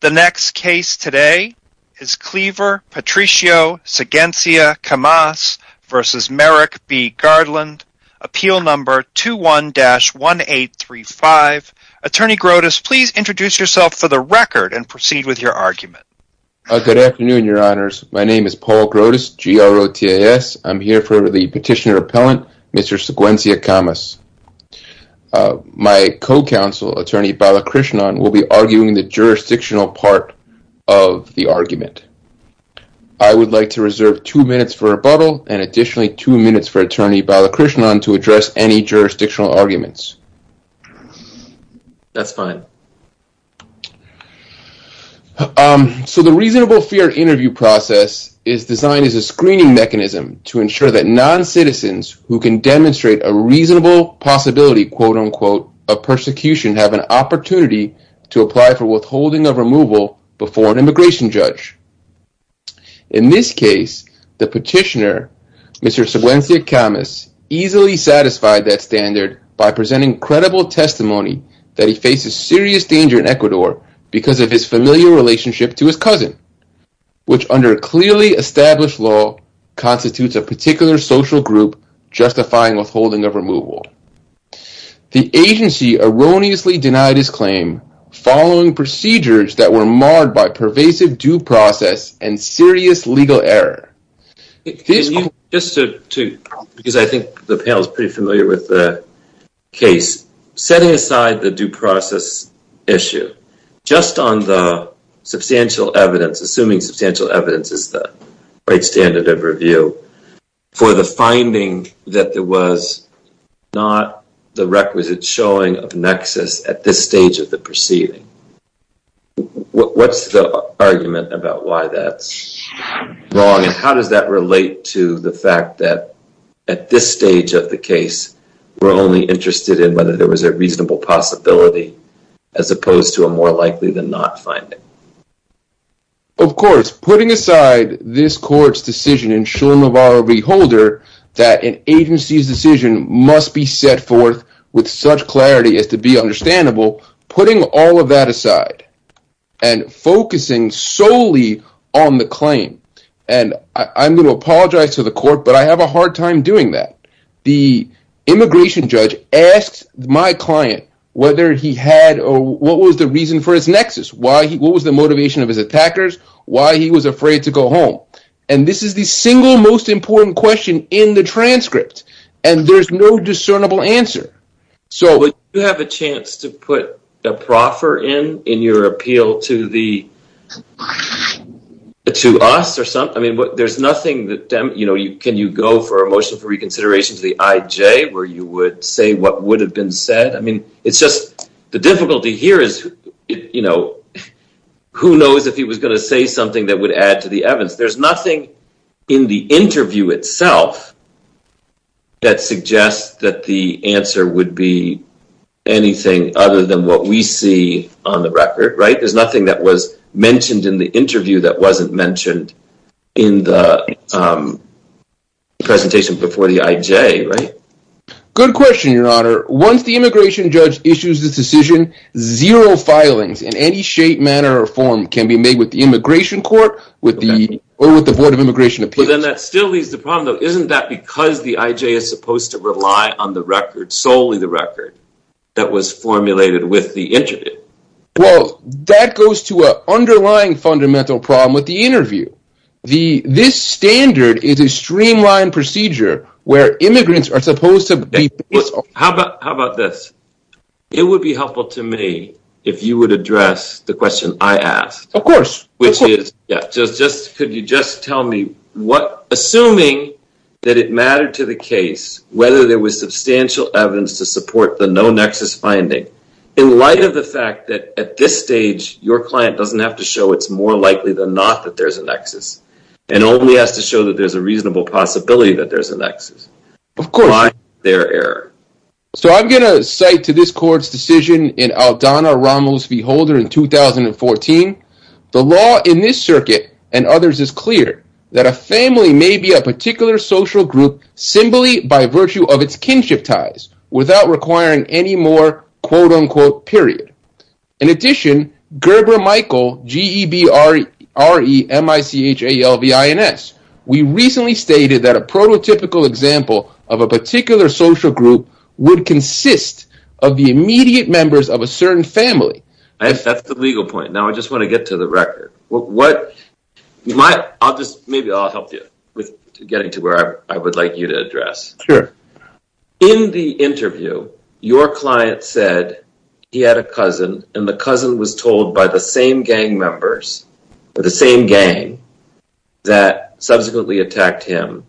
The next case today is Cleaver-Patricio Siguensia-Camas v. Merrick B. Garland, appeal number 21-1835. Attorney Grotus, please introduce yourself for the record and proceed with your argument. Good afternoon, your honors. My name is Paul Grotus, G-R-O-T-A-S. I'm here for the petitioner appellant, Mr. Siguensia-Camas. My co-counsel, Attorney Balakrishnan, will be arguing the jurisdictional part of the argument. I would like to reserve two minutes for rebuttal and additionally two minutes for Attorney Balakrishnan to address any jurisdictional arguments. That's fine. So the reasonable fear interview process is designed as a screening mechanism to ensure that non-citizens who can demonstrate a reasonable possibility, quote-unquote, of persecution have an opportunity to apply for withholding of removal before an immigration judge. In this case, the petitioner, Mr. Siguensia-Camas, easily satisfied that standard by presenting credible testimony that he faces serious danger in Ecuador because of his familiar relationship to his cousin, which under clearly established law constitutes a particular social group justifying withholding of removal. The agency erroneously denied his claim following procedures that were marred by pervasive due process and serious legal error. Because I think the panel is pretty familiar with the case, setting aside the due process issue, just on the substantial evidence, assuming substantial evidence is the right standard of review, for the finding that there was not the requisite showing of nexus at this stage of the proceeding, what's the argument about why that's wrong and how does that relate to the fact that at this stage of the case we're only interested in whether there was a reasonable possibility as opposed to a more likely than not finding? Of course, putting aside this court's decision in Shulamavara Reholder that an agency's decision must be set forth with such clarity as to be understandable, putting all of that aside and focusing solely on the claim. I'm going to apologize to the court, but I have a hard time doing that. The immigration judge asked my client whether he had or what was the reason for his afraid to go home. This is the single most important question in the transcript and there's no discernible answer. Do you have a chance to put a proffer in in your appeal to us? Can you go for a motion for reconsideration to the IJ where you would say what would have been evidence? There's nothing in the interview itself that suggests that the answer would be anything other than what we see on the record. There's nothing that was mentioned in the interview that wasn't mentioned in the presentation before the IJ. Good question, your honor. Once the immigration judge issues this decision, zero filings in any shape, can be made with the immigration court or with the board of immigration appeals. Then that still leaves the problem though, isn't that because the IJ is supposed to rely on the record, solely the record, that was formulated with the interview? Well, that goes to an underlying fundamental problem with the interview. This standard is a streamlined procedure where immigrants are supposed to be... How about this? It would be helpful to me if you would address the question I asked. Of course. Could you just tell me, assuming that it mattered to the case whether there was substantial evidence to support the no nexus finding, in light of the fact that at this stage your client doesn't have to show it's more likely than not that there's a nexus and only has to show that there's a nexus. I'm going to cite to this court's decision in Aldana Ramos v. Holder in 2014. The law in this circuit and others is clear that a family may be a particular social group simply by virtue of its kinship ties without requiring any more quote unquote period. In addition, Gerber Michael, G-E-B-R-E-M-I-C-H-A-L-V-I-N-S, we recently stated that a prototypical example of a particular social group would consist of the immediate members of a certain family. That's the legal point. Now I just want to get to the record. Maybe I'll help you with getting to where I would like you to address. Sure. In the interview, your client said he had a cousin and the cousin was told by the same gang members or the same gang that subsequently attacked him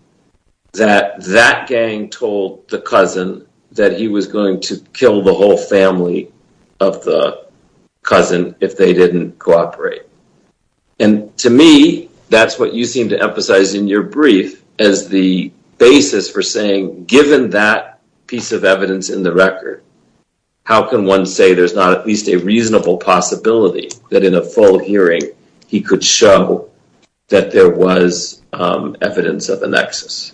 that that gang told the cousin that he was going to kill the whole family of the cousin if they didn't cooperate. And to me, that's what you seem to emphasize in your brief as the basis for saying given that piece of evidence in the record, how can one say there's not at least a reasonable possibility that in a full hearing he could show that there was evidence of a nexus?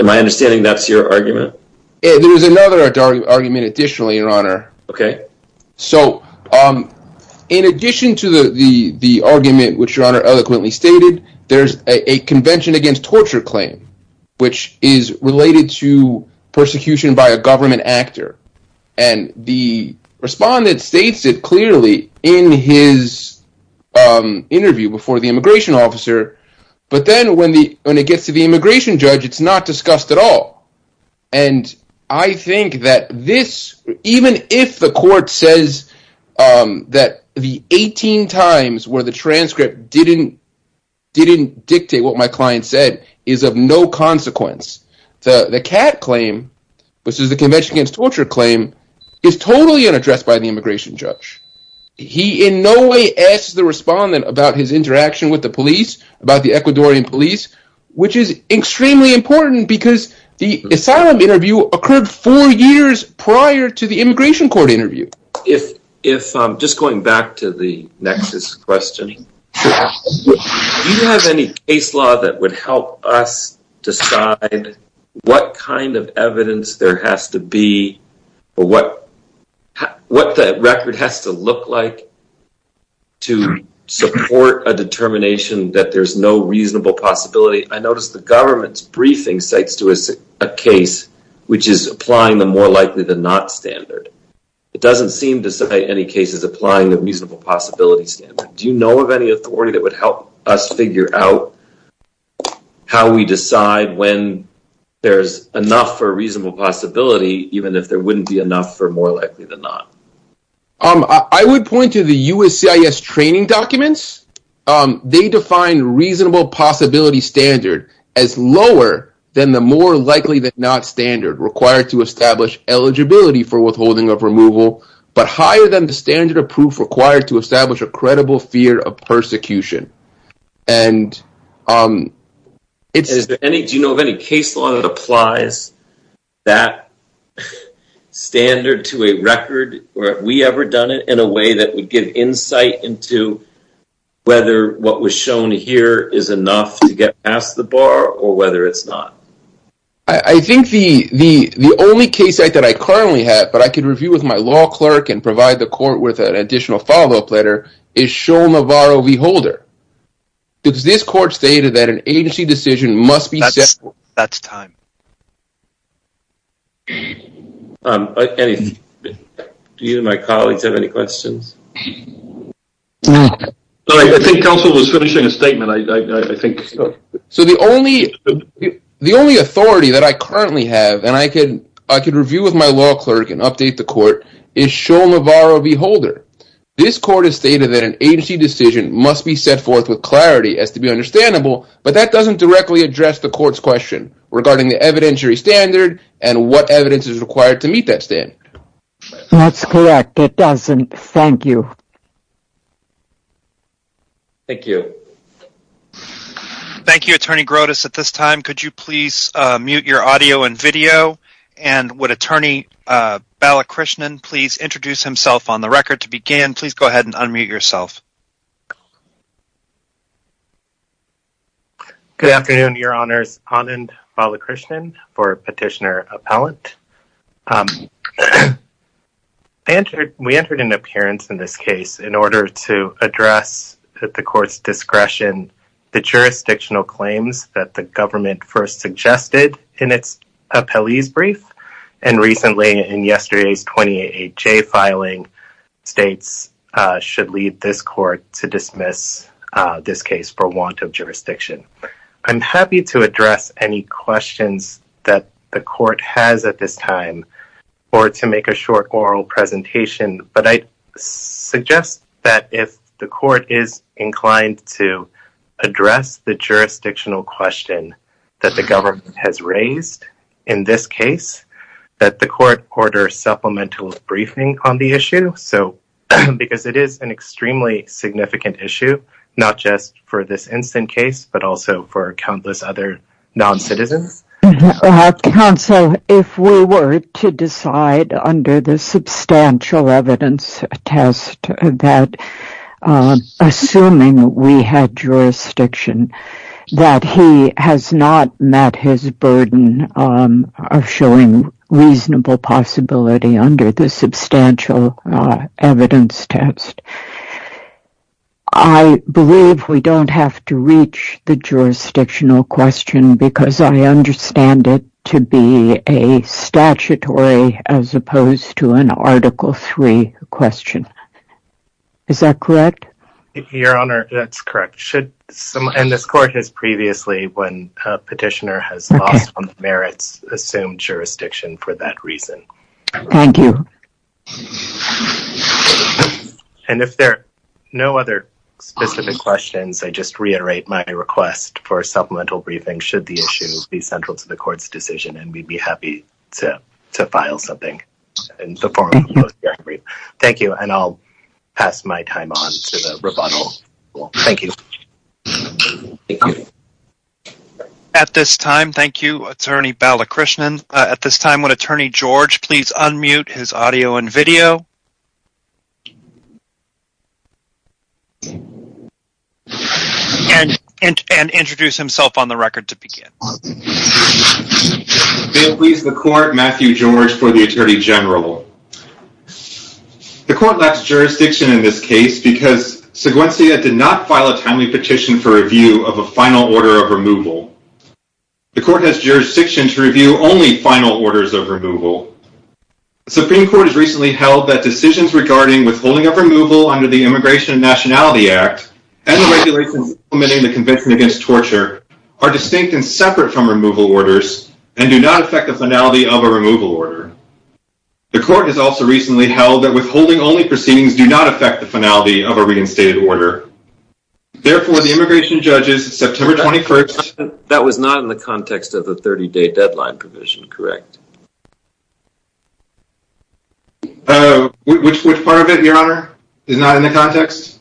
Am I understanding that's your argument? There is another argument additionally, your honor. So in addition to the argument, which your honor eloquently stated, there's a convention against torture claim, which is related to persecution by a government actor. And the respondent states it clearly in his interview before the immigration officer. But then when it gets to the immigration judge, it's not discussed at all. And I think that this, even if the court says that the 18 times where the transcript didn't dictate what my client said is of no consequence. The cat claim, which is the convention against torture claim, is totally unaddressed by the immigration judge. He in no way asks the respondent about his interaction with the police, about the Ecuadorian police, which is extremely important because the asylum interview occurred four years prior to the immigration court interview. If if I'm just going back to the nexus questioning, do you have any case law that would help us decide what kind of evidence there has to be, or what the record has to look like to support a determination that there's no reasonable possibility? I noticed the government's briefing cites to us a case which is applying the more likely than not standard. It doesn't seem to cite any cases applying the reasonable possibility standard. Do you know of any authority that would help us figure out how we decide when there's enough for a reasonable possibility, even if there wouldn't be enough for more likely than not? I would point to the USCIS training documents. They define reasonable possibility standard as lower than the more likely than not standard required to establish eligibility for withholding removal, but higher than the standard of proof required to establish a credible fear of persecution. Do you know of any case law that applies that standard to a record, or have we ever done it in a way that would give insight into whether what was shown here is enough to get past the bar, or whether it's not? I think the only case that I currently have, but I can review with my law clerk and provide the court with an additional follow-up letter, is Shul-Navarro v. Holder. Does this court state that an agency decision must be settled? That's time. Do you and my colleagues have any questions? I think counsel was finishing a statement. I think so. The only authority that I currently have, and I can review with my law clerk and update the court, is Shul-Navarro v. Holder. This court has stated that an agency decision must be set forth with clarity as to be understandable, but that doesn't directly address the court's question regarding the evidentiary standard and what evidence is required to meet that standard. That's correct. It doesn't. Thank you. Thank you, Attorney Grotus. At this time, could you please mute your audio and video, and would Attorney Balakrishnan please introduce himself on the record to begin? Please go ahead and unmute yourself. Good afternoon, Your Honors. Anand Balakrishnan for Petitioner Appellant. I entered, we entered an appearance in this case, in order to address, at the court's discretion, the jurisdictional claims that the government first suggested in its appellees brief, and recently in yesterday's 28-8J filing, states should leave this court to dismiss this case for want of jurisdiction. I'm happy to address any questions that the court has at this time, or to make a short oral presentation, but I suggest that if the court is inclined to address the jurisdictional question that the government has raised in this case, that the court order supplemental briefing on the issue, because it is an extremely significant issue, not just for this instant case, but also for countless other non-citizens. Counsel, if we were to decide under the substantial evidence test that, assuming we had jurisdiction, that he has not met his burden of showing reasonable possibility under the substantial evidence test, I believe we don't have to reach the jurisdictional question because I understand it to be a statutory, as opposed to an article three question. Is that correct? Your Honor, that's correct. And this court has previously, when a petitioner has lost on the merits, assumed jurisdiction for that reason. Thank you. And if there are no other specific questions, I just reiterate my request for a supplemental briefing should the issue be central to the court's decision, and we'd be happy to file something in the form of a brief. Thank you, and I'll pass my time on to the rebuttal. Thank you. At this time, thank you, Attorney Balakrishnan. At this time, would Attorney George please unmute his audio and video and introduce himself on the record to begin. May it please the court, Matthew George for the Attorney General. The court left jurisdiction in this case because Seguencia did not file a timely petition for review of a final order of removal. The court has jurisdiction to review only final orders of removal. Decisions regarding withholding of removal under the Immigration and Nationality Act and the regulations implementing the Convention Against Torture are distinct and separate from removal orders and do not affect the finality of a removal order. The court has also recently held that withholding-only proceedings do not affect the finality of a reinstated order. Therefore, the immigration judges, September 21st... That was not in the context of the 30-day deadline provision, correct? Which part of it, Your Honor, is not in the context?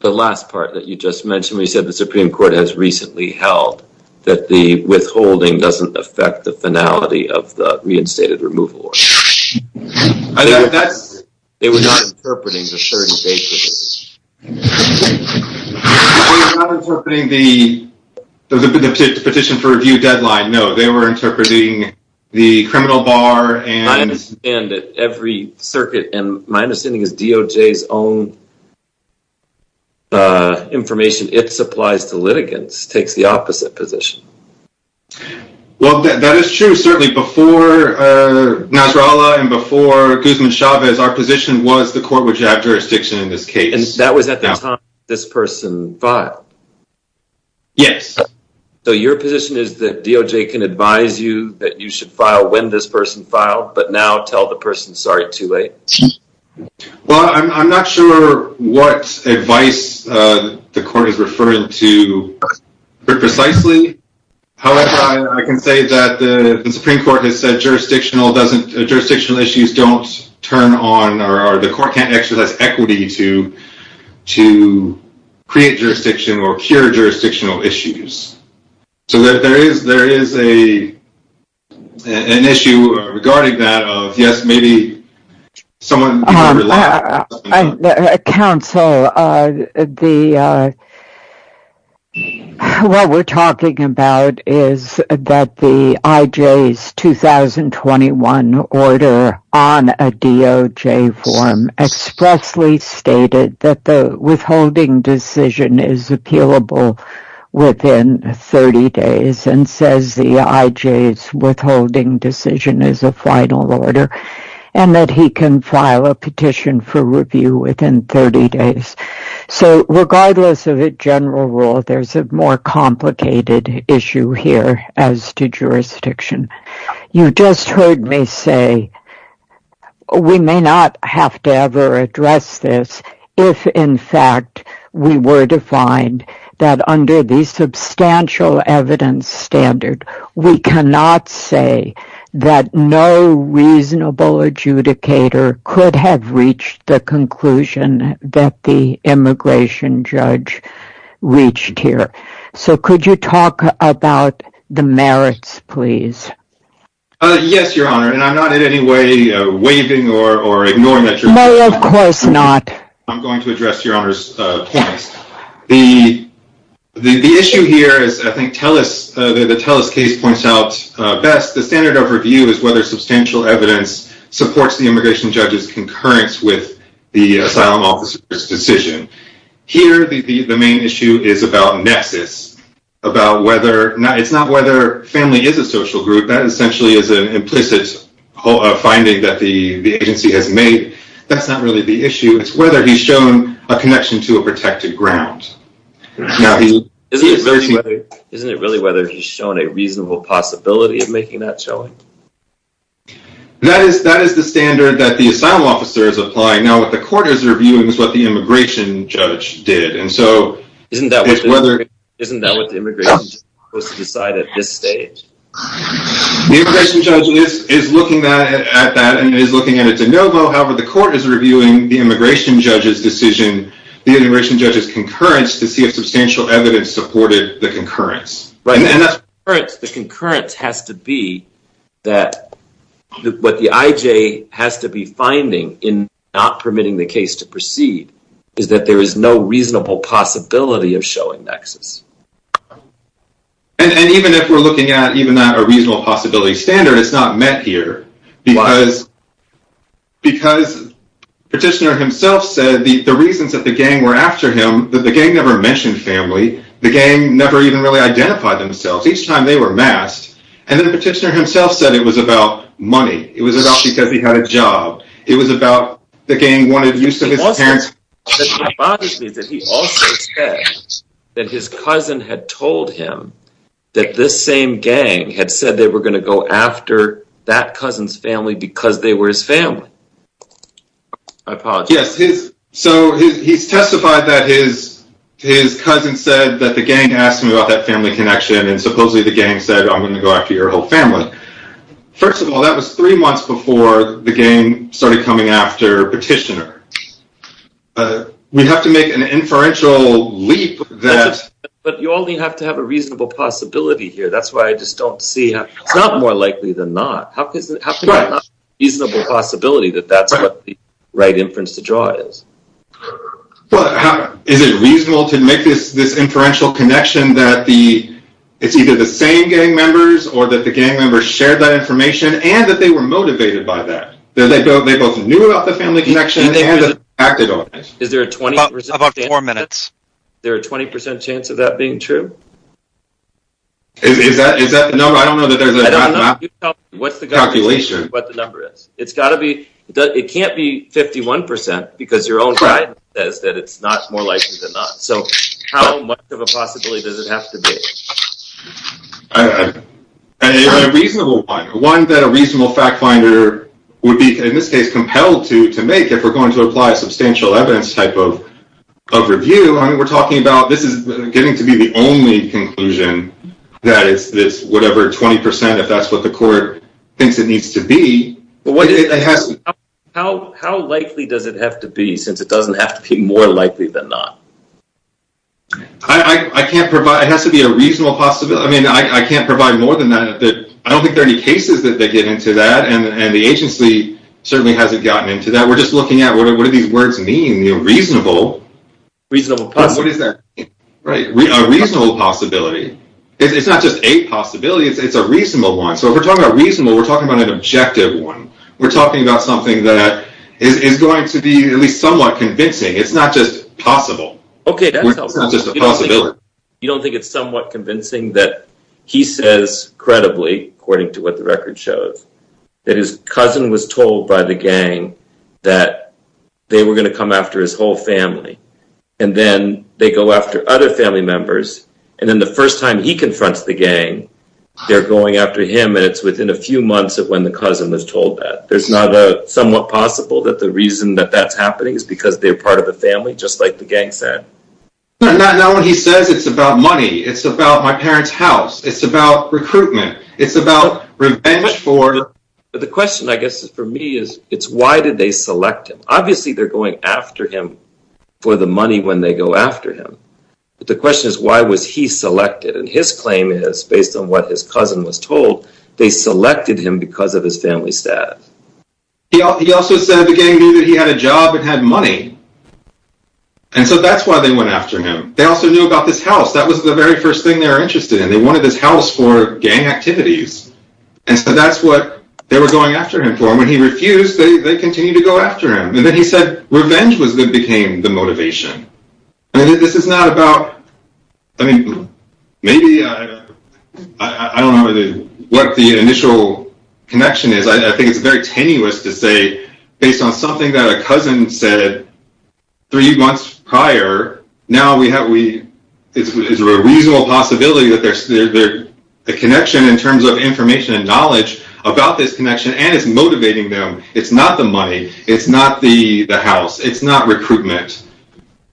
The last part that you just mentioned, where you said the Supreme Court has recently held that the withholding doesn't affect the finality of the reinstated removal order. They were not interpreting the 30-day deadline. They were not interpreting the petition for review deadline, no. They were interpreting the criminal bar and... My understanding is DOJ's own information, it supplies to litigants, takes the opposite position. Well, that is true. Certainly before Nasrallah and before Guzman-Chavez, our position was the court would have jurisdiction in this case. That was at the time this person filed? Yes. So your position is that DOJ can advise you that you should file when this person filed, but now tell the person, sorry, too late? Well, I'm not sure what advice the court is referring to precisely. However, I can say that the Supreme Court has said jurisdictional issues don't turn on or the court can't exercise equity to create jurisdiction or cure jurisdictional issues. So there is an issue regarding that of, yes, maybe someone... Counsel, what we're talking about is that the IJ's 2021 order on a DOJ form expressly stated that the withholding decision is appealable within 30 days and says the IJ's withholding decision is a final order and that he can file a petition for review within 30 days. So regardless of the general rule, there's a more complicated issue here as to jurisdiction. You just heard me say, we may not have to ever address this if in fact we were to find that under the substantial evidence standard, we cannot say that no reasonable adjudicator could have reached the conclusion that the immigration judge reached here. So could you talk about the merits, please? Yes, Your Honor, and I'm not in any way waiving or ignoring that. No, of course not. I'm going to address Your Honor's points. The issue here is, I think the Telus case points out best, the standard of review is whether substantial evidence supports the immigration judge's concurrence with the asylum officer's is about nexus. It's not whether family is a social group. That essentially is an implicit finding that the agency has made. That's not really the issue. It's whether he's shown a connection to a protected ground. Isn't it really whether he's shown a reasonable possibility of making that showing? That is the standard that the asylum officer is applying. Now what the court is reviewing is what the immigration judge did. Isn't that what the immigration judge is supposed to decide at this stage? The immigration judge is looking at that and is looking at it de novo. However, the court is reviewing the immigration judge's decision, the immigration judge's concurrence to see if substantial evidence supported the concurrence. The concurrence has to be that what the IJ has to be finding in not permitting the case to proceed is that there is no reasonable possibility of showing nexus. And even if we're looking at even that a reasonable possibility standard, it's not met here. Because Petitioner himself said the reasons that the gang were after him, that the gang never mentioned family. The gang never even really identified themselves. Each time they were masked. And then Petitioner himself said it was about money. It was about because he had a job. It was about the gang wanted use of his parents. It bothers me that he also said that his cousin had told him that this same gang had said they were going to go after that cousin's family because they were his family. I apologize. Yes, so he's testified that his cousin said that the gang asked him about that family connection and supposedly the gang said, I'm going to go after your whole family. First of all, that was three months before the gang started coming after Petitioner. We have to make an inferential leap. But you only have to have a reasonable possibility here. That's why I just don't see how it's not more likely than not. How is it not a reasonable possibility that that's what the right inference to draw is? But is it reasonable to make this inferential connection that it's either the same gang members or that the gang members shared that information and that they were motivated by that? That they both knew about the family connection and acted on it? Is there a 20% chance of that being true? Is that the number? I don't know that there's a calculation what the number is. It can't be 51% because your own pride says that it's not more likely than not. How much of a possibility does it have to be? It's a reasonable one. One that a reasonable fact finder would be, in this case, compelled to make if we're going to apply a substantial evidence type of review. We're talking about this is getting to be the only conclusion that it's whatever 20% if that's what the court thinks it needs to be. How likely does it have to be since it doesn't have to be more likely than not? I can't provide. It has to be a reasonable possibility. I mean, I can't provide more than that. I don't think there are any cases that they get into that. And the agency certainly hasn't gotten into that. We're just looking at what do these words mean? Reasonable. Reasonable possibility. What does that mean? Right. A reasonable possibility. It's not just a possibility. It's a reasonable one. So if we're talking about reasonable, we're talking about an objective one. We're talking about something that is going to be at least somewhat convincing. It's not just possible. Okay, that's not just a possibility. You don't think it's somewhat convincing that he says credibly, according to what the record shows, that his cousin was told by the gang that they were going to come after his whole family. And then they go after other family members. And then the first time he confronts the gang, they're going after him. And it's within a few months of when the cousin was told that. There's not a somewhat possible that the reason that that's happening is because they're part of the family, just like the gang said. Not when he says it's about money. It's about my parents' house. It's about recruitment. It's about revenge for. But the question, I guess, for me is, it's why did they select him? Obviously, they're going after him for the money when they go after him. But the question is, why was he selected? And his claim is, based on what his cousin was told, they selected him because of his family staff. He also said the gang knew that he had a job and had money. And so that's why they went after him. They also knew about this house. That was the very first thing they were interested in. They wanted this house for gang activities. And so that's what they were going after him for. And when he refused, they continued to go after him. And then he said revenge became the motivation. I mean, this is not about. I mean, maybe I don't know what the initial connection is. I think it's very tenuous to say, based on something that a cousin said three months prior, now we have a reasonable possibility that there's a connection in terms of information and knowledge about this connection. And it's motivating them. It's not the money. It's not the house. It's not recruitment.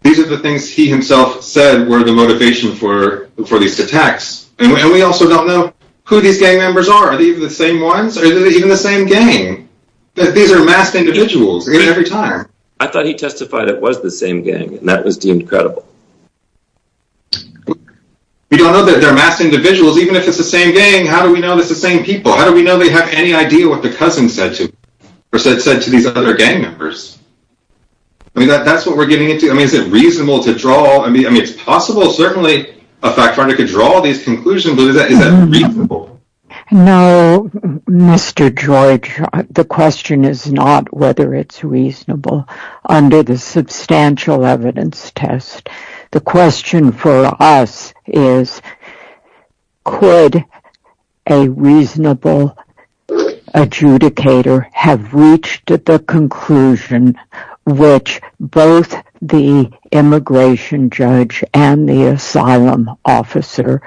These are the things he himself said were the motivation for these attacks. And we also don't know who these gang members are. The same ones or even the same gang. These are masked individuals every time. I thought he testified it was the same gang. And that was deemed credible. We don't know that they're masked individuals, even if it's the same gang. How do we know it's the same people? How do we know they have any idea what the cousin said to or said to these other gang members? I mean, that's what we're getting into. I mean, is it reasonable to draw? I mean, it's possible, certainly a factor to draw these conclusions. But is that reasonable? No, Mr. George. The question is not whether it's reasonable under the substantial evidence test. The question for us is, could a reasonable adjudicator have reached the conclusion which both the immigration judge and the asylum officer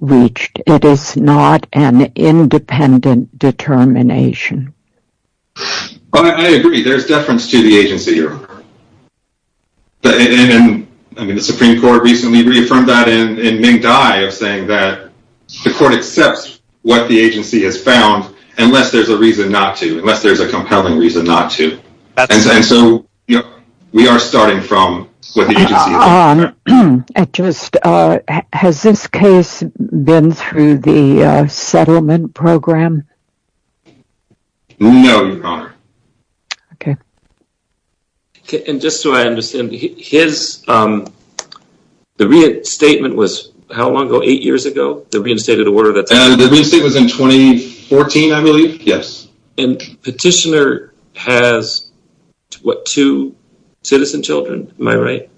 reached? It is not an independent determination. I agree. There's deference to the agency here. I mean, the Supreme Court recently reaffirmed that in Ming Dai of saying that the court accepts what the agency has found unless there's a reason not to, unless there's a compelling reason not to. And so we are starting from what the agency has found. I just, has this case been through the settlement program? No, Your Honor. Okay. And just so I understand, his, the reinstatement was how long ago? Eight years ago? The reinstated order? The reinstatement was in 2014, I believe. Yes. And petitioner has, what, two citizen children? Am I right?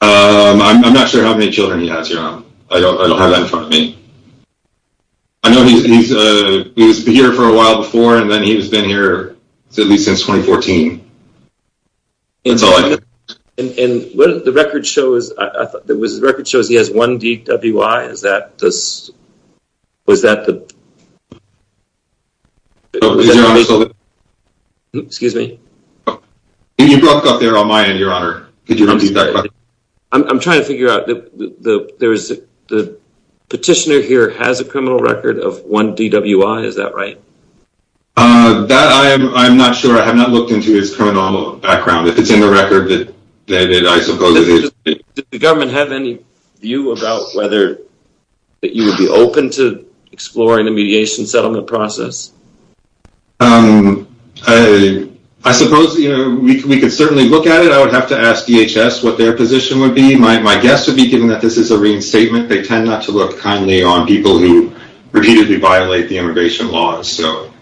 I'm not sure how many children he has, Your Honor. I don't have that in front of me. I know he's been here for a while before, and then he's been here at least since 2014. That's all I know. And the record shows, I thought, the record shows he has one DWI. Is that this, was that the? You broke up there on my end, Your Honor. Could you repeat that question? I'm trying to figure out, the petitioner here has a criminal record of one DWI, is that right? That I'm not sure. I have not looked into his criminal background. If it's in the record, then I suppose it is. Did the government have any view about whether that you would be open to exploring the mediation settlement process? I suppose, you know, we could certainly look at it. I would have to ask DHS what their position would be. My guess would be, given that this is a reinstatement, they tend not to look kindly on people who repeatedly violate the immigration laws. So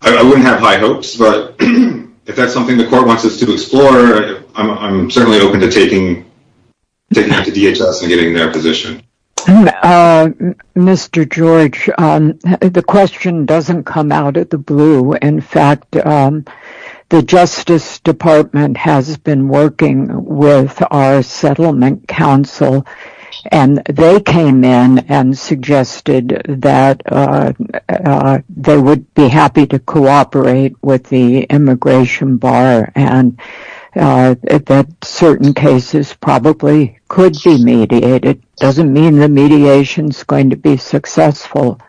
I wouldn't have high hopes. But if that's something the court wants us to explore, I'm certainly open to taking that to DHS and getting their position. Mr. George, the question doesn't come out of the blue. In fact, the Justice Department has been working with our Settlement Council and they came in and suggested that they would be happy to cooperate with the immigration bar and that certain cases probably could be mediated. It doesn't mean the mediation is going to be successful.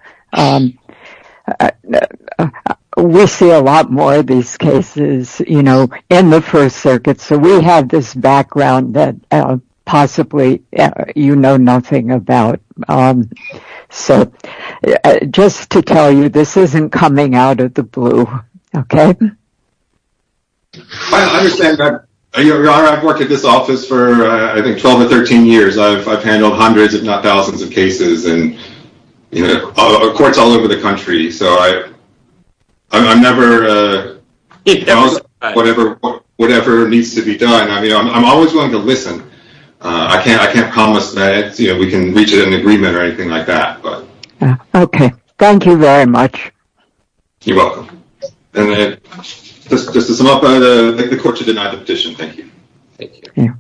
We'll see a lot more of these cases, you know, in the First Circuit. So we have this background that possibly you know nothing about. So just to tell you, this isn't coming out of the blue. Okay? I understand that. You know, I've worked at this office for, I think, 12 or 13 years. I've handled hundreds, if not thousands of cases. You know, courts all over the country. So I'm never... Whatever needs to be done. I mean, I'm always willing to listen. I can't promise that we can reach an agreement or anything like that. Okay. Thank you very much. You're welcome. Just to sum up, I think the court should deny the petition. Thank you. Thank you.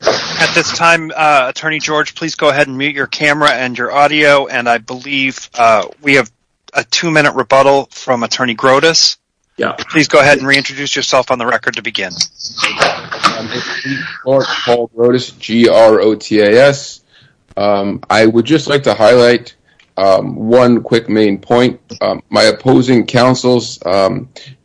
At this time, Attorney George, please go ahead and mute your camera and your audio. And I believe we have a two-minute rebuttal from Attorney Grotas. Please go ahead and reintroduce yourself on the record to begin. I'm Paul Grotas, G-R-O-T-A-S. I would just like to highlight one quick main point. My opposing counsel's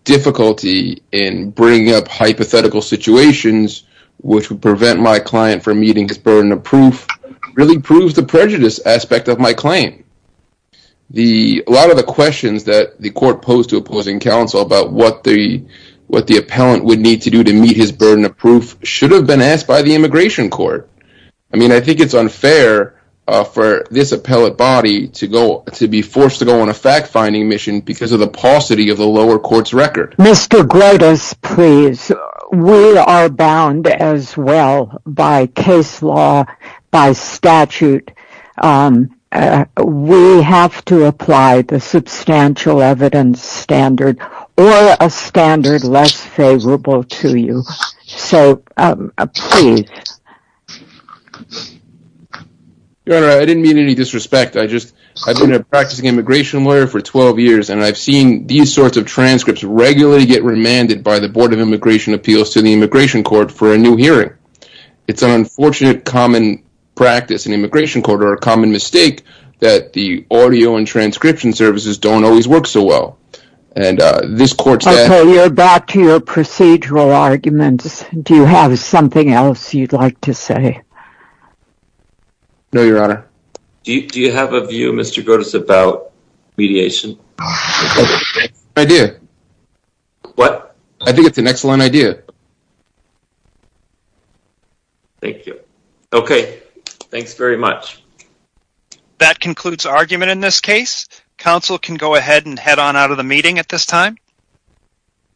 difficulty in bringing up hypothetical situations which would prevent my client from meeting his burden of proof really proves the prejudice aspect of my claim. A lot of the questions that the court posed to opposing counsel about what the appellant would need to do to meet his burden of proof should have been asked by the immigration court. I mean, I think it's unfair for this appellate body to be forced to go on a fact-finding mission because of the paucity of the lower court's record. Mr. Grotas, please. We are bound as well by case law, by statute. We have to apply the substantial evidence standard or a standard less favorable to you. So, please. Your Honor, I didn't mean any disrespect. I've been a practicing immigration lawyer for 12 years and I've seen these sorts of transcripts regularly get remanded by the Board of Immigration Appeals to the Immigration Court for a new hearing. It's an unfortunate common practice in the Immigration Court or a common mistake that the audio and transcription services don't always work so well. And this court's... Okay, you're back to your procedural arguments. Do you have something else you'd like to say? No, Your Honor. Do you have a view, Mr. Grotas, about mediation? I do. What? I think it's an excellent idea. Thank you. Okay, thanks very much. That concludes argument in this case. Counsel can go ahead and head on out of the meeting at this time.